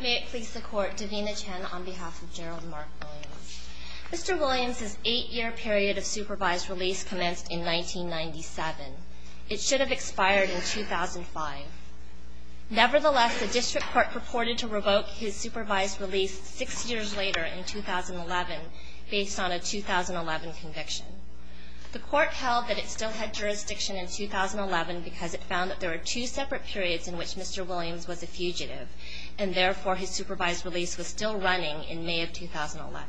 May it please the Court, Davina Chen on behalf of Gerald Mark Williams. Mr. Williams' eight-year period of supervised release commenced in 1997. It should have expired in 2005. Nevertheless, the District Court purported to revoke his supervised release six years later in 2011 based on a 2011 conviction. The Court held that it still had jurisdiction in 2011 because it found that there were two separate periods in which Mr. Williams was a fugitive and therefore his supervised release was still running in May of 2011.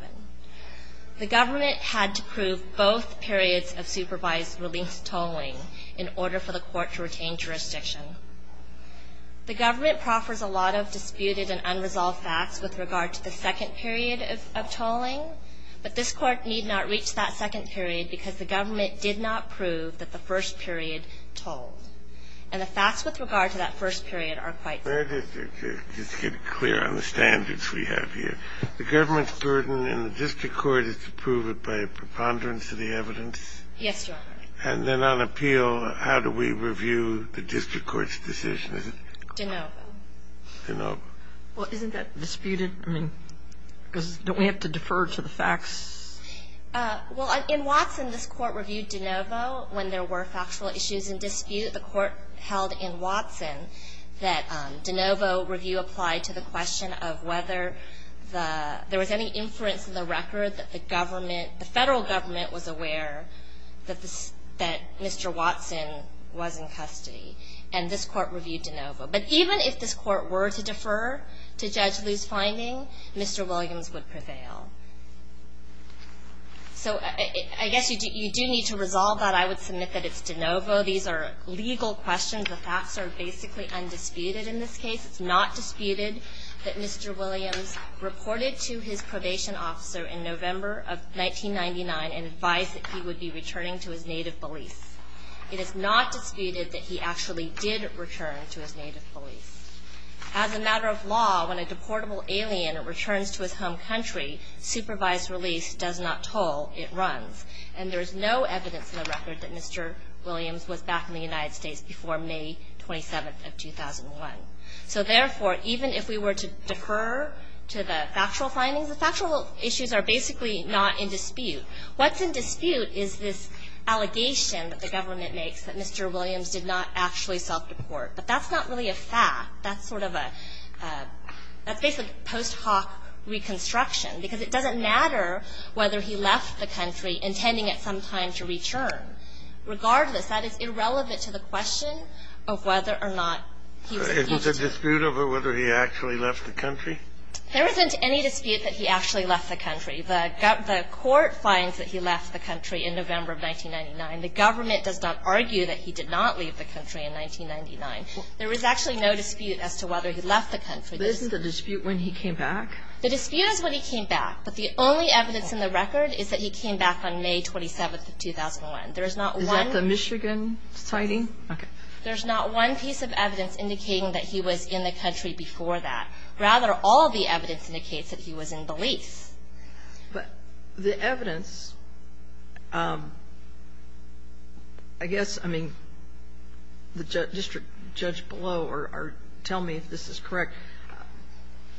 The government had to prove both periods of supervised release tolling in order for the Court to retain jurisdiction. The government proffers a lot of disputed and unresolved facts with regard to the second period of tolling, but this Court need not reach that second period because the government did not prove that the first period tolled. And the facts with regard to that first period are quite different. Just to get clear on the standards we have here, the government's burden in the District Court is to prove it by preponderance of the evidence? Yes, Your Honor. And then on appeal, how do we review the District Court's decision? De novo. De novo. Well, isn't that disputed? I mean, because don't we have to defer to the facts? Well, in Watson, this Court reviewed de novo when there were factual issues in dispute. The Court held in Watson that de novo review applied to the question of whether there was any inference in the record that the federal government was aware that Mr. Watson was in custody, and this Court reviewed de novo. But even if this Court were to defer to Judge Liu's finding, Mr. Williams would prevail. So I guess you do need to resolve that. I would submit that it's de novo. These are legal questions. The facts are basically undisputed in this case. It's not disputed that Mr. Williams reported to his probation officer in November of 1999 and advised that he would be returning to his native Belize. It is not disputed that he actually did return to his native Belize. As a matter of law, when a deportable alien returns to his home country, supervised release does not toll. It runs. And there is no evidence in the record that Mr. Williams was back in the United States before May 27th of 2001. So therefore, even if we were to defer to the factual findings, the factual issues are basically not in dispute. What's in dispute is this allegation that the government makes that Mr. Williams did not actually self-deport. But that's not really a fact. That's sort of a – that's basically post hoc reconstruction, because it doesn't matter whether he left the country intending at some time to return. Regardless, that is irrelevant to the question of whether or not he was deported. It was a dispute over whether he actually left the country? There isn't any dispute that he actually left the country. The court finds that he left the country in November of 1999. The government does not argue that he did not leave the country in 1999. There is actually no dispute as to whether he left the country. But isn't the dispute when he came back? The dispute is when he came back. But the only evidence in the record is that he came back on May 27th of 2001. There is not one – Is that the Michigan signing? Okay. There's not one piece of evidence indicating that he was in the country before that. Rather, all of the evidence indicates that he was in Belize. But the evidence, I guess, I mean, the district judge below or tell me if this is correct,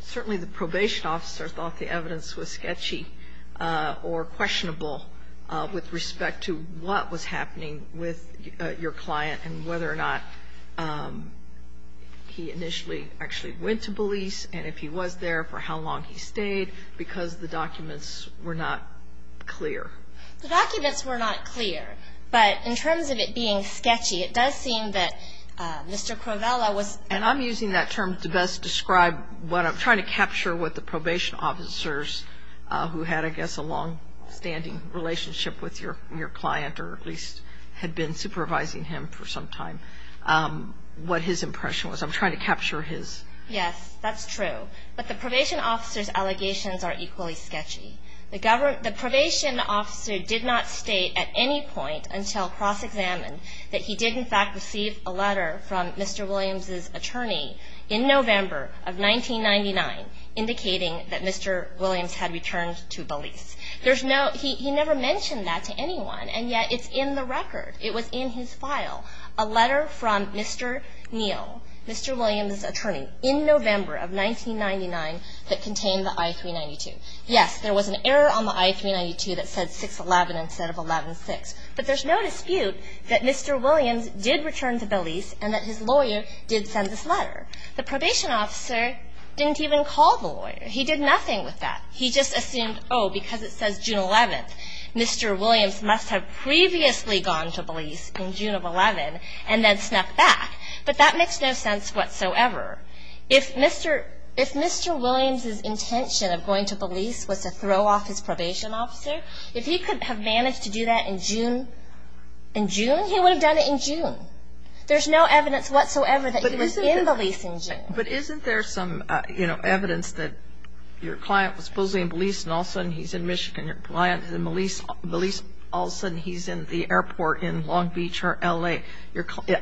certainly the probation officer thought the evidence was sketchy or questionable with respect to what was happening with your client and whether or not he initially actually went to Belize and if he was there, for how long he stayed, because the documents were not clear. The documents were not clear. But in terms of it being sketchy, it does seem that Mr. Crovella was – And I'm using that term to best describe what I'm trying to capture with the probation officers who had, I guess, a longstanding relationship with your client or at least had been supervising him for some time, what his impression was. I'm trying to capture his. Yes, that's true. But the probation officer's allegations are equally sketchy. The probation officer did not state at any point until cross-examined that he did, in fact, receive a letter from Mr. Williams's attorney in November of 1999 indicating that Mr. Williams had returned to Belize. There's no – he never mentioned that to anyone, and yet it's in the record. It was in his file, a letter from Mr. Neal, Mr. Williams's attorney, in November of 1999 that contained the I-392. Yes, there was an error on the I-392 that said 611 instead of 116. But there's no dispute that Mr. Williams did return to Belize and that his lawyer did send this letter. The probation officer didn't even call the lawyer. He did nothing with that. He just assumed, oh, because it says June 11th, Mr. Williams must have previously gone to Belize in June of 11 and then snuck back. But that makes no sense whatsoever. If Mr. Williams's intention of going to Belize was to throw off his probation officer, if he could have managed to do that in June, in June, he would have done it in June. There's no evidence whatsoever that he was in Belize in June. But isn't there some, you know, evidence that your client was supposedly in Belize and all of a sudden he's in Michigan. Your client is in Belize, all of a sudden he's in the airport in Long Beach or L.A.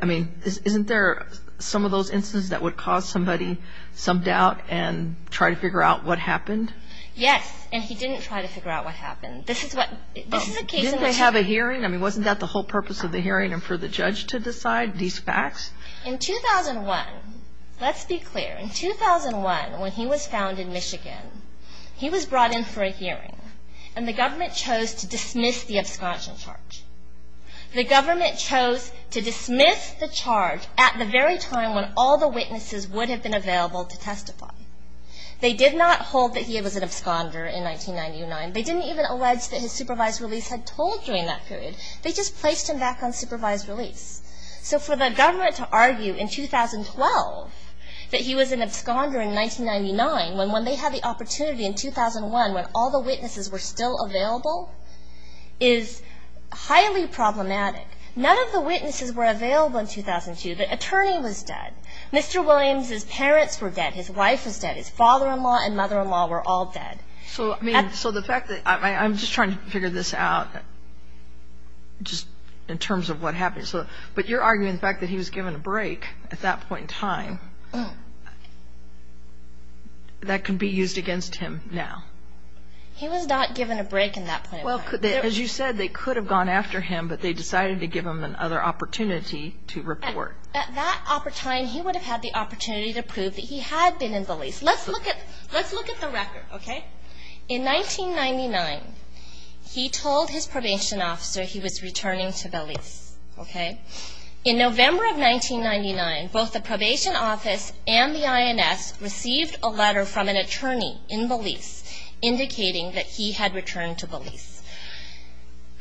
I mean, isn't there some of those instances that would cause somebody some doubt and try to figure out what happened? Yes, and he didn't try to figure out what happened. This is what, this is a case. Didn't they have a hearing? I mean, wasn't that the whole purpose of the hearing and for the judge to decide these facts? In 2001, let's be clear, in 2001 when he was found in Michigan, he was brought in for a hearing and the government chose to dismiss the absconding charge. The government chose to dismiss the charge at the very time when all the witnesses would have been available to testify. They did not hold that he was an absconder in 1999. They didn't even allege that his supervised release had told during that period. They just placed him back on supervised release. So for the government to argue in 2012 that he was an absconder in 1999 when they had the opportunity in 2001 when all the witnesses were still available is highly problematic. None of the witnesses were available in 2002. The attorney was dead. Mr. Williams' parents were dead. His wife was dead. His father-in-law and mother-in-law were all dead. So the fact that I'm just trying to figure this out just in terms of what happened. But you're arguing the fact that he was given a break at that point in time. That can be used against him now. He was not given a break in that point in time. As you said, they could have gone after him, but they decided to give him another opportunity to report. At that time, he would have had the opportunity to prove that he had been in the lease. Let's look at the record, okay? In 1999, he told his probation officer he was returning to the lease, okay? In November of 1999, both the probation office and the INS received a letter from an attorney in the lease indicating that he had returned to the lease.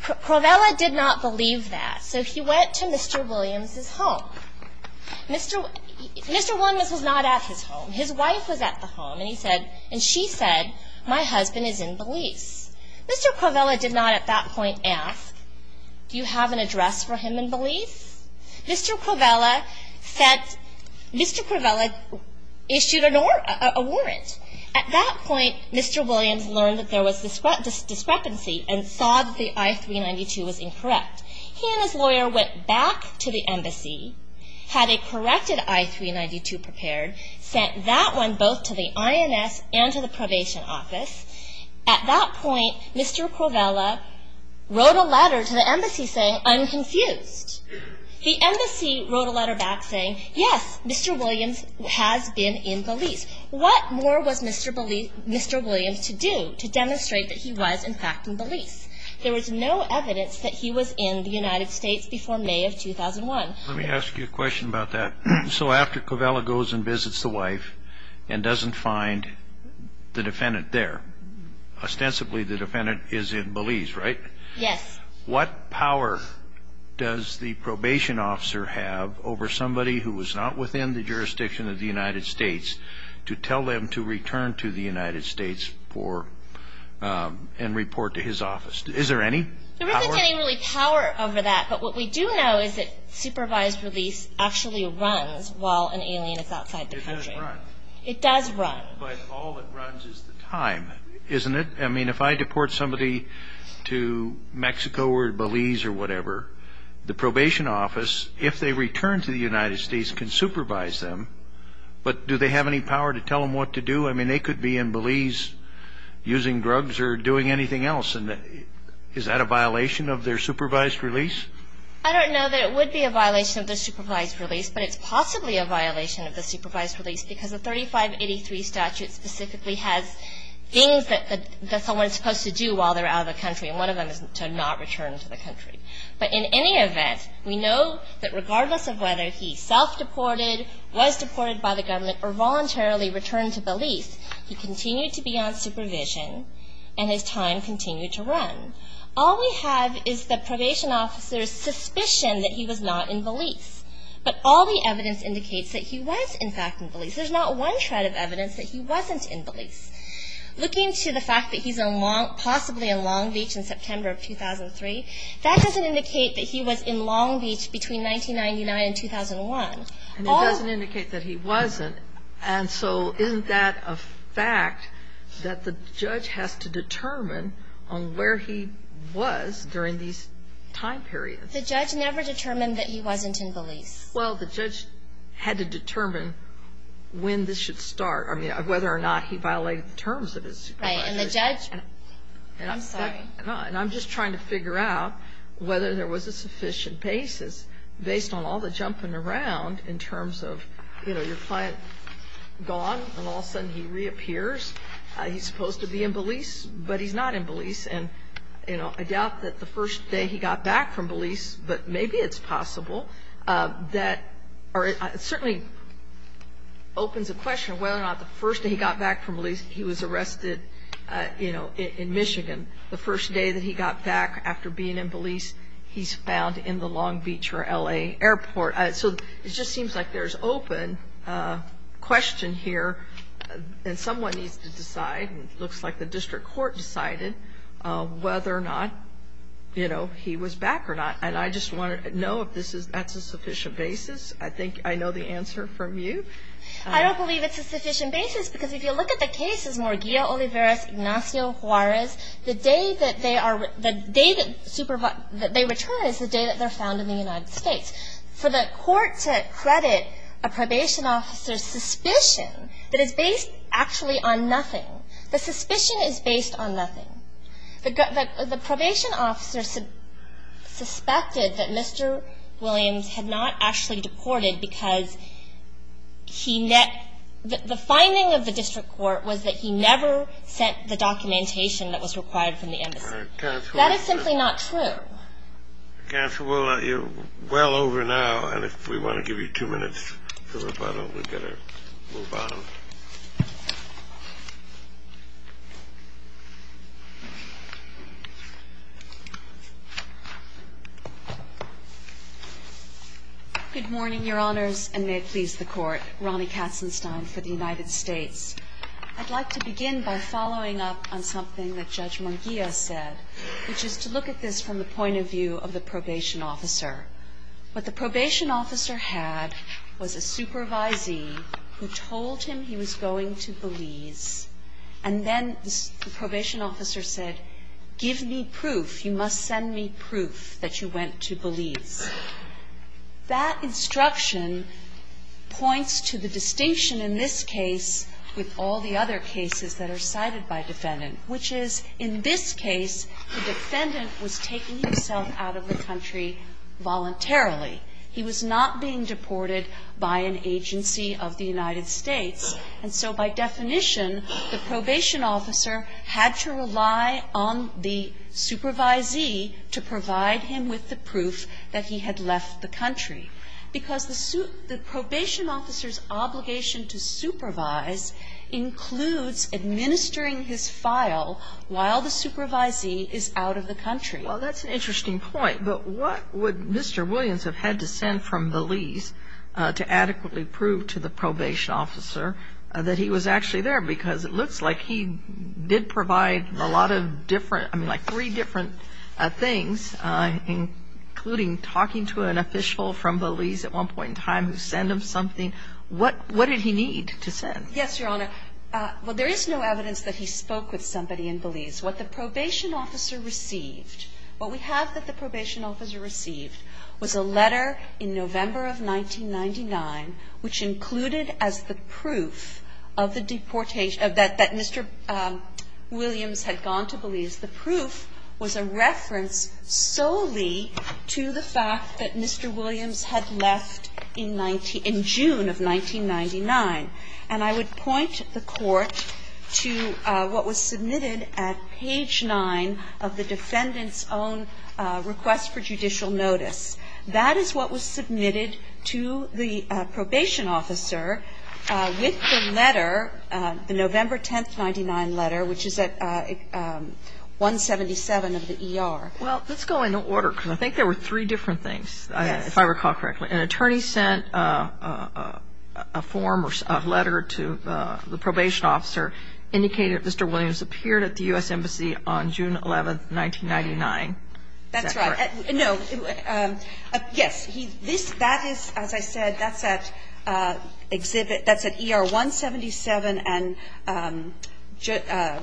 Provella did not believe that, so he went to Mr. Williams' home. Mr. Williams was not at his home. His wife was at the home, and she said, My husband is in the lease. Mr. Provella did not at that point ask, Do you have an address for him in the lease? Mr. Provella issued a warrant. At that point, Mr. Williams learned that there was discrepancy and saw that the I-392 was incorrect. He and his lawyer went back to the embassy, had a corrected I-392 prepared, sent that one both to the INS and to the probation office. At that point, Mr. Provella wrote a letter to the embassy saying, I'm confused. The embassy wrote a letter back saying, Yes, Mr. Williams has been in the lease. What more was Mr. Williams to do to demonstrate that he was, in fact, in the lease? There was no evidence that he was in the United States before May of 2001. Let me ask you a question about that. After Provella goes and visits the wife and doesn't find the defendant there, ostensibly the defendant is in the lease, right? Yes. What power does the probation officer have over somebody who was not within the jurisdiction of the United States to tell them to return to the United States and report to his office? Is there any power? There isn't any really power over that, but what we do know is that supervised release actually runs while an alien is outside the country. It doesn't run. It does run. But all that runs is the time, isn't it? I mean, if I deport somebody to Mexico or Belize or whatever, the probation office, if they return to the United States, can supervise them. But do they have any power to tell them what to do? I mean, they could be in Belize using drugs or doing anything else. Is that a violation of their supervised release? I don't know that it would be a violation of the supervised release, but it's possibly a violation of the supervised release because the 3583 statute specifically has things that someone is supposed to do while they're out of the country, and one of them is to not return to the country. But in any event, we know that regardless of whether he self-deported, was deported by the government, or voluntarily returned to Belize, he continued to be on supervision and his time continued to run. All we have is the probation officer's suspicion that he was not in Belize. But all the evidence indicates that he was, in fact, in Belize. There's not one shred of evidence that he wasn't in Belize. Looking to the fact that he's possibly in Long Beach in September of 2003, that doesn't indicate that he was in Long Beach between 1999 and 2001. And it doesn't indicate that he wasn't. And so isn't that a fact that the judge has to determine on where he was during these time periods? The judge never determined that he wasn't in Belize. Well, the judge had to determine when this should start, I mean, whether or not he violated the terms of his supervision. Right. And the judge – I'm sorry. And I'm just trying to figure out whether there was a sufficient basis, based on all the jumping around in terms of, you know, your client gone and all of a sudden he reappears. He's supposed to be in Belize, but he's not in Belize. And, you know, I doubt that the first day he got back from Belize, but maybe it's possible, that certainly opens a question of whether or not the first day he got back from Belize, he was arrested, you know, in Michigan. The first day that he got back after being in Belize, he's found in the Long Beach or L.A. airport. So it just seems like there's open question here, and someone needs to decide, and it looks like the district court decided, whether or not, you know, he was back or not. And I just want to know if that's a sufficient basis. I think I know the answer from you. I don't believe it's a sufficient basis, because if you look at the cases, Ignacio Juarez, the day that they return is the day that they're found in the United States. For the court to credit a probation officer's suspicion that is based actually on nothing, the suspicion is based on nothing. The probation officer suspected that Mr. Williams had not actually deported, because the finding of the district court was that he never sent the documentation that was required from the embassy. That is simply not true. Counsel, we're well over now, and if we want to give you two minutes for rebuttal, we'd better move on. Good morning, Your Honors, and may it please the Court. Ronnie Katzenstein for the United States. I'd like to begin by following up on something that Judge Munguia said, which is to look at this from the point of view of the probation officer. What the probation officer had was a supervisee who told him he was going to Belize, and then the probation officer said, give me proof. You must send me proof that you went to Belize. That instruction points to the distinction in this case with all the other cases that are cited by defendant, which is in this case the defendant was taking himself out of the country voluntarily. He was not being deported by an agency of the United States. And so by definition, the probation officer had to rely on the supervisee to provide him with the proof that he had left the country. Because the probation officer's obligation to supervise includes administering his file while the supervisee is out of the country. Well, that's an interesting point. But what would Mr. Williams have had to send from Belize to adequately prove to the probation officer that he was actually there? Because it looks like he did provide a lot of different, I mean, like three different things, including talking to an official from Belize at one point in time who sent him something. What did he need to send? Yes, Your Honor. Well, there is no evidence that he spoke with somebody in Belize. What the probation officer received, what we have that the probation officer received was a letter in November of 1999 which included as the proof of the deportation of that Mr. Williams had gone to Belize. The proof was a reference solely to the fact that Mr. Williams had left in June of 1999. And I would point the Court to what was submitted at page 9 of the defendant's own request for judicial notice. That is what was submitted to the probation officer with the letter, the November 10, 1999 letter, which is at 177 of the ER. Well, let's go in order, because I think there were three different things, if I recall correctly. Yes. An attorney sent a form or a letter to the probation officer indicating that Mr. Williams appeared at the U.S. Embassy on June 11, 1999. Is that correct? That's right. No. Yes. That is, as I said, that's at exhibit, that's at ER 177 and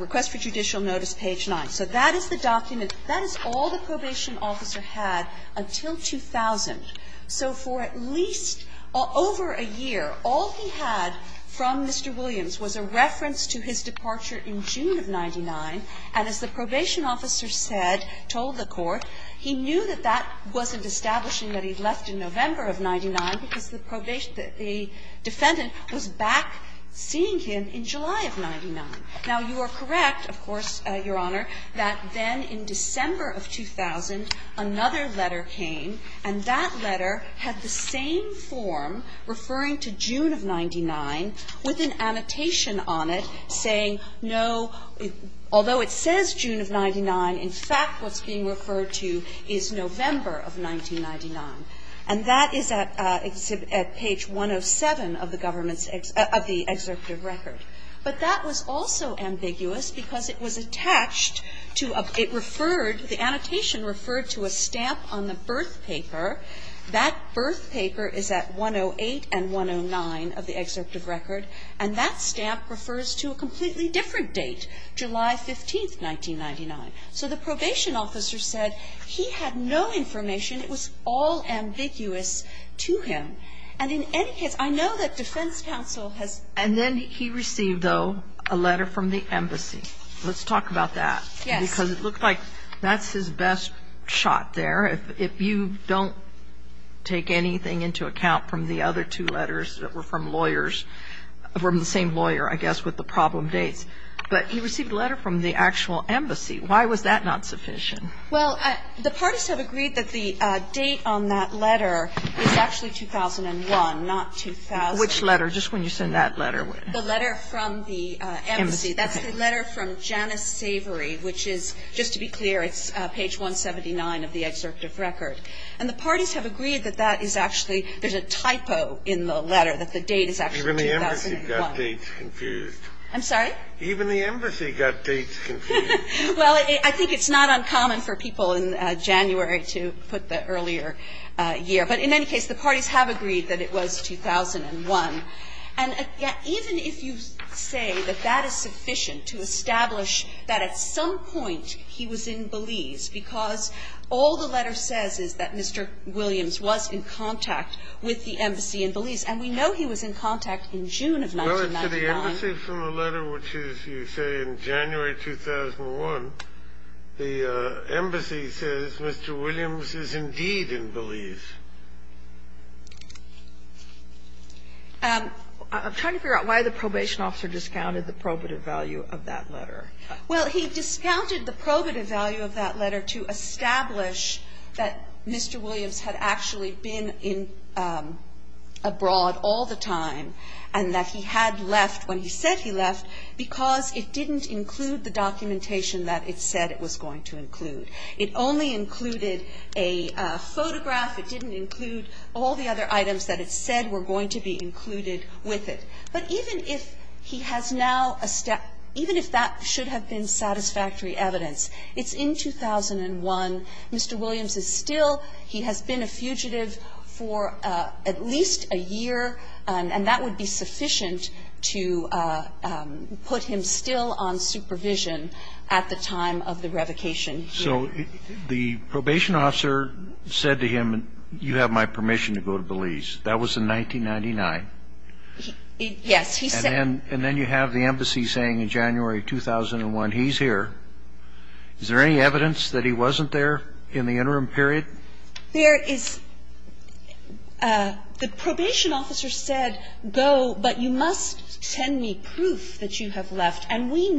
request for judicial notice, page 9. So that is the document. That is all the probation officer had until 2000. So for at least over a year, all he had from Mr. Williams was a reference to his departure in June of 1999, and as the probation officer said, told the Court, he knew that that wasn't establishing that he'd left in November of 1999 because the probation the defendant was back seeing him in July of 1999. Now, you are correct, of course, Your Honor, that then in December of 2000, another letter came, and that letter had the same form referring to June of 1999 with an annotation on it saying, no, although it says June of 1999, in fact, what's being referred to is November of 1999. And that is at page 107 of the government's, of the excerptive record. But that was also ambiguous because it was attached to a, it referred, the annotation referred to a stamp on the birth paper. That birth paper is at 108 and 109 of the excerptive record, and that stamp refers to a completely different date, July 15th, 1999. So the probation officer said he had no information. It was all ambiguous to him. And in any case, I know that defense counsel has. And then he received, though, a letter from the embassy. Let's talk about that. Yes. Because it looked like that's his best shot there. If you don't take anything into account from the other two letters that were from lawyers, from the same lawyer, I guess, with the problem dates. But he received a letter from the actual embassy. Why was that not sufficient? Well, the parties have agreed that the date on that letter is actually 2001, not 2000. Which letter? Just when you sent that letter. The letter from the embassy. That's the letter from Janice Savory, which is, just to be clear, it's page 179 of the excerptive record. And the parties have agreed that that is actually, there's a typo in the letter, that the date is actually 2001. Even the embassy got dates confused. I'm sorry? Even the embassy got dates confused. Well, I think it's not uncommon for people in January to put the earlier year. But in any case, the parties have agreed that it was 2001. And even if you say that that is sufficient to establish that at some point he was in Belize because all the letter says is that Mr. Williams was in contact with the embassy in Belize. And we know he was in contact in June of 1999. Well, to the embassy from the letter, which is, you say, in January 2001, the embassy says Mr. Williams is indeed in Belize. I'm trying to figure out why the probation officer discounted the probative value of that letter. Well, he discounted the probative value of that letter to establish that Mr. Williams had actually been in abroad all the time and that he had left when he said he left because it didn't include the documentation that it said it was going to include. It only included a photograph. It didn't include all the other items that it said were going to be included with it. But even if he has now established – even if that should have been satisfactory evidence, it's in 2001. Mr. Williams is still – he has been a fugitive for at least a year, and that would be sufficient to put him still on supervision at the time of the revocation here. So the probation officer said to him, you have my permission to go to Belize. That was in 1999. Yes. He said – And then you have the embassy saying in January 2001, he's here. Is there any evidence that he wasn't there in the interim period? There is – the probation officer said, go, but you must send me proof that you have And as we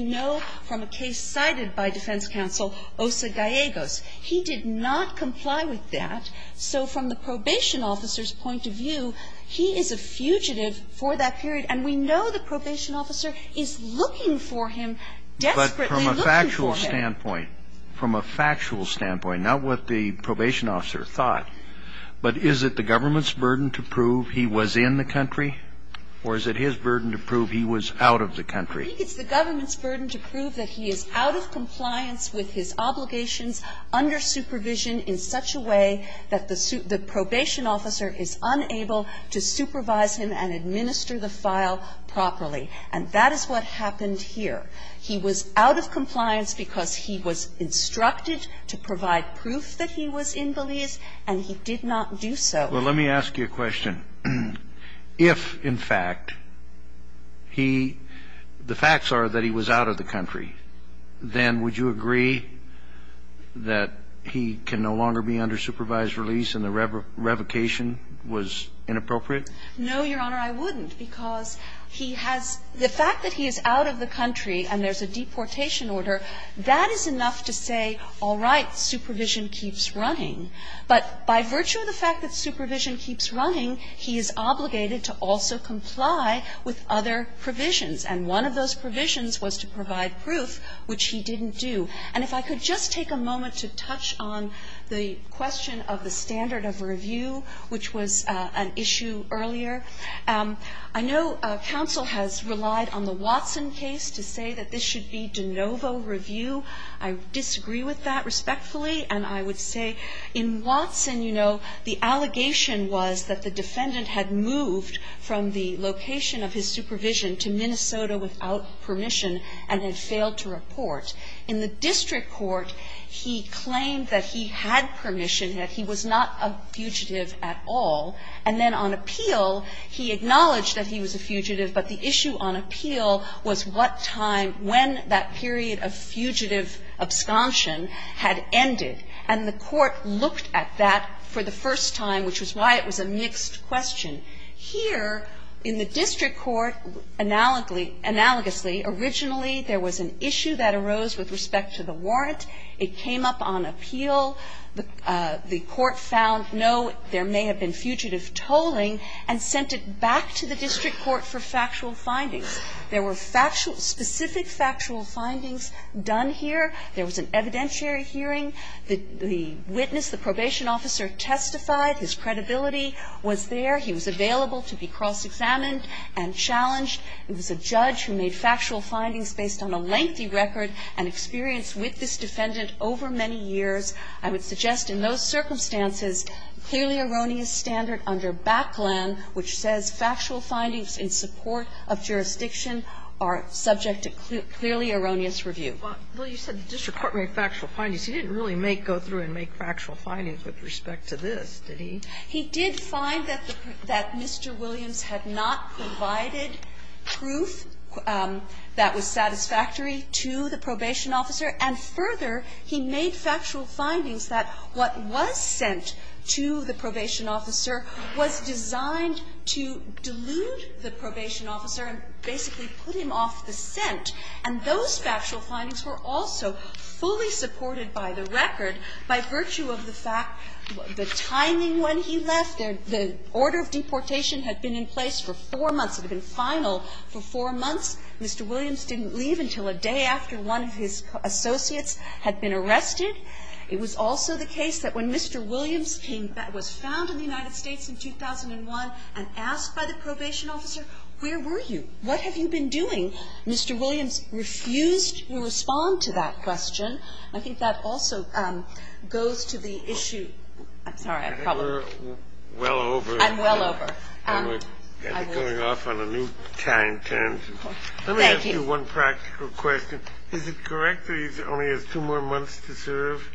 know from a case cited by defense counsel, Osa Gallegos, he did not comply with that. So from the probation officer's point of view, he is a fugitive for that period, and we know the probation officer is looking for him, desperately looking for him. But from a factual standpoint, not what the probation officer thought, but is it the government's burden to prove he was in the country, or is it his burden to prove he was out of the country? I think it's the government's burden to prove that he is out of compliance with his obligations under supervision in such a way that the probation officer is unable to supervise him and administer the file properly. And that is what happened here. He was out of compliance because he was instructed to provide proof that he was in Belize, and he did not do so. Well, let me ask you a question. If, in fact, he – the facts are that he was out of the country, then would you agree that he can no longer be under supervised release and the revocation was inappropriate? No, Your Honor. I wouldn't, because he has – the fact that he is out of the country and there's a deportation order, that is enough to say, all right, supervision keeps running. But by virtue of the fact that supervision keeps running, he is obligated to also comply with other provisions. And one of those provisions was to provide proof, which he didn't do. And if I could just take a moment to touch on the question of the standard of review, which was an issue earlier. I know counsel has relied on the Watson case to say that this should be de novo review. I disagree with that respectfully, and I would say in Watson, you know, the allegation was that the defendant had moved from the location of his supervision to Minnesota without permission and had failed to report. In the district court, he claimed that he had permission, that he was not a fugitive at all, and then on appeal, he acknowledged that he was a fugitive, but the issue on appeal was what time, when that period of fugitive absconsion had ended. And the court looked at that for the first time, which was why it was a mixed question. Here in the district court, analogously, originally there was an issue that arose with respect to the warrant. It came up on appeal. The court found, no, there may have been fugitive tolling and sent it back to the district court for factual findings. There were factual, specific factual findings done here. There was an evidentiary hearing. The witness, the probation officer, testified. His credibility was there. He was available to be cross-examined and challenged. It was a judge who made factual findings based on a lengthy record and experience with this defendant over many years. I would suggest in those circumstances, clearly erroneous standard under Baclan, which says factual findings in support of jurisdiction are subject to clearly erroneous review. Kagan, you said the district court made factual findings. He didn't really go through and make factual findings with respect to this, did he? He did find that the Mr. Williams had not provided proof that was satisfactory to the probation officer. And further, he made factual findings that what was sent to the probation officer was designed to delude the probation officer and basically put him off the scent. And those factual findings were also fully supported by the record by virtue of the fact the timing when he left, the order of deportation had been in place for four months, had been final for four months. Mr. Williams didn't leave until a day after one of his associates had been arrested. It was also the case that when Mr. Williams came back, was found in the United States in 2001 and asked by the probation officer, where were you? What have you been doing? Mr. Williams refused to respond to that question. I think that also goes to the issue. I'm sorry. I probably am well over. I'm well over. And we're coming off on a new time tangent. Thank you. Let me ask you one practical question. Is it correct that he only has two more months to serve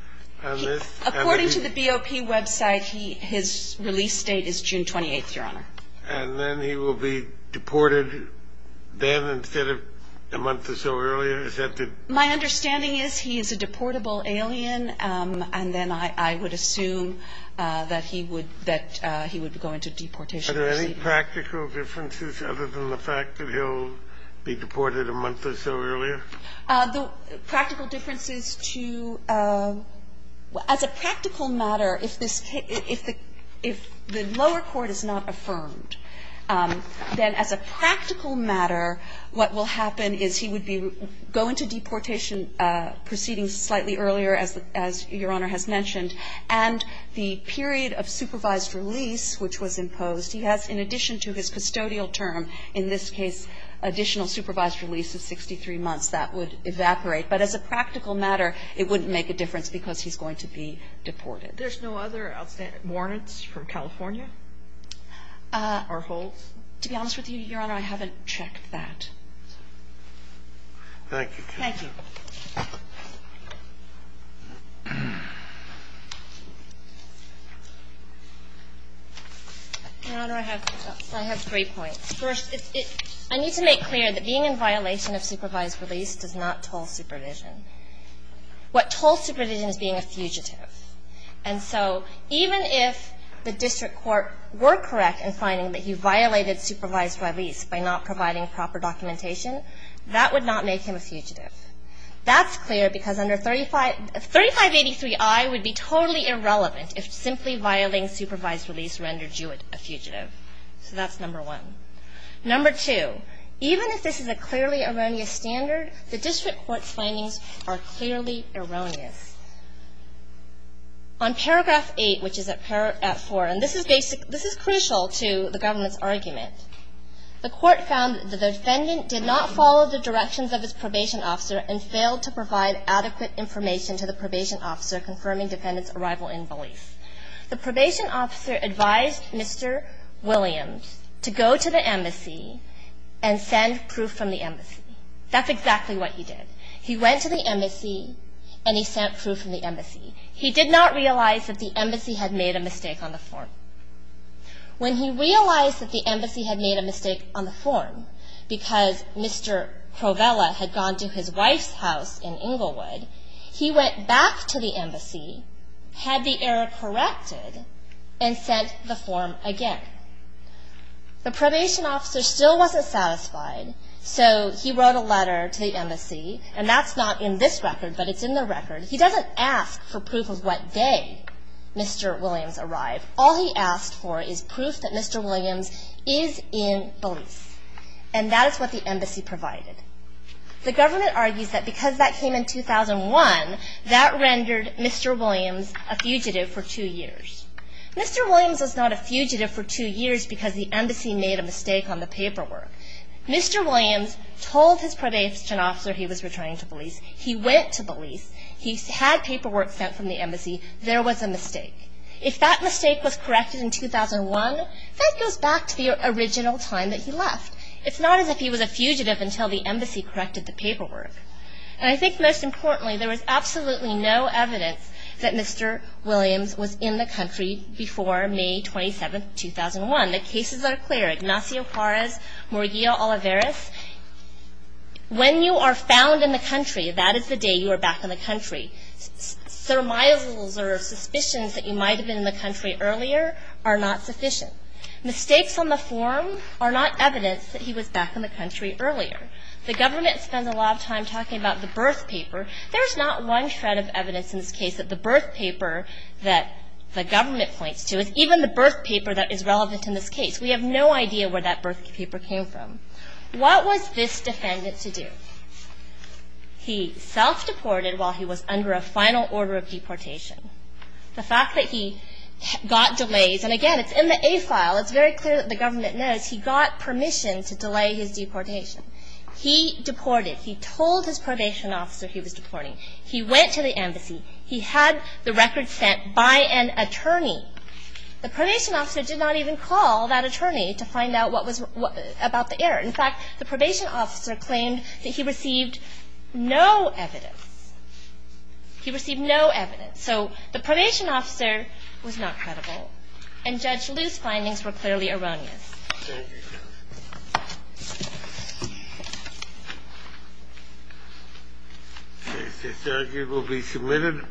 on this? According to the BOP website, his release date is June 28th, Your Honor. And then he will be deported then instead of a month or so earlier? My understanding is he is a deportable alien, and then I would assume that he would go into deportation. Are there any practical differences other than the fact that he'll be deported a month or so earlier? The practical difference is to as a practical matter, if the lower court is not affirmed, then as a practical matter, what will happen is he would be going to deportation proceeding slightly earlier, as Your Honor has mentioned. And the period of supervised release which was imposed, he has in addition to his custodial term, in this case, additional supervised release of 63 months. That would evaporate. But as a practical matter, it wouldn't make a difference because he's going to be deported. There's no other outstanding warrants from California? To be honest with you, Your Honor, I haven't checked that. Thank you. Thank you. Your Honor, I have three points. First, I need to make clear that being in violation of supervised release does not toll supervision. What tolls supervision is being a fugitive. And so even if the district court were correct in finding that he violated supervised release by not providing proper documentation, that would not make him a fugitive. That's clear because under 3583I would be totally irrelevant if simply violating supervised release rendered you a fugitive. So that's number one. Number two, even if this is a clearly erroneous standard, the district court's findings are clearly erroneous. On paragraph 8, which is at 4, and this is crucial to the government's argument, the court found that the defendant did not follow the directions of his probation officer and failed to provide adequate information to the probation officer confirming defendant's arrival in Belize. The probation officer advised Mr. Williams to go to the embassy and send proof from the embassy. That's exactly what he did. He went to the embassy and he sent proof from the embassy. He did not realize that the embassy had made a mistake on the form. When he realized that the embassy had made a mistake on the form because Mr. Provella had gone to his wife's house in Inglewood, he went back to the embassy, had the error corrected, and sent the form again. The probation officer still wasn't satisfied, so he wrote a letter to the embassy, and that's not in this record, but it's in the record. He doesn't ask for proof of what day Mr. Williams arrived. All he asked for is proof that Mr. Williams is in Belize, and that is what the embassy provided. The government argues that because that came in 2001, that rendered Mr. Williams a fugitive for two years. Mr. Williams was not a fugitive for two years because the embassy made a mistake on the paperwork. Mr. Williams told his probation officer he was returning to Belize. He went to Belize. He had paperwork sent from the embassy. There was a mistake. If that mistake was corrected in 2001, that goes back to the original time that he left. It's not as if he was a fugitive until the embassy corrected the paperwork. And I think most importantly, there was absolutely no evidence that Mr. Williams was in the country before May 27, 2001. The cases are clear. Ignacio Juarez, Murillo Olivares, when you are found in the country, that is the day you are back in the country. Surmises or suspicions that you might have been in the country earlier are not sufficient. Mistakes on the form are not evidence that he was back in the country earlier. The government spends a lot of time talking about the birth paper. There's not one shred of evidence in this case that the birth paper that the government points to is even the birth paper that is relevant in this case. We have no idea where that birth paper came from. What was this defendant to do? He self-deported while he was under a final order of deportation. The fact that he got delays, and again, it's in the A file. It's very clear that the government knows he got permission to delay his deportation. He deported. He told his probation officer he was deporting. He went to the embassy. He had the record sent by an attorney. The probation officer did not even call that attorney to find out what was about the error. In fact, the probation officer claimed that he received no evidence. He received no evidence. So the probation officer was not credible. And Judge Liu's findings were clearly erroneous. Thank you. The case is adjourned. You will be submitted.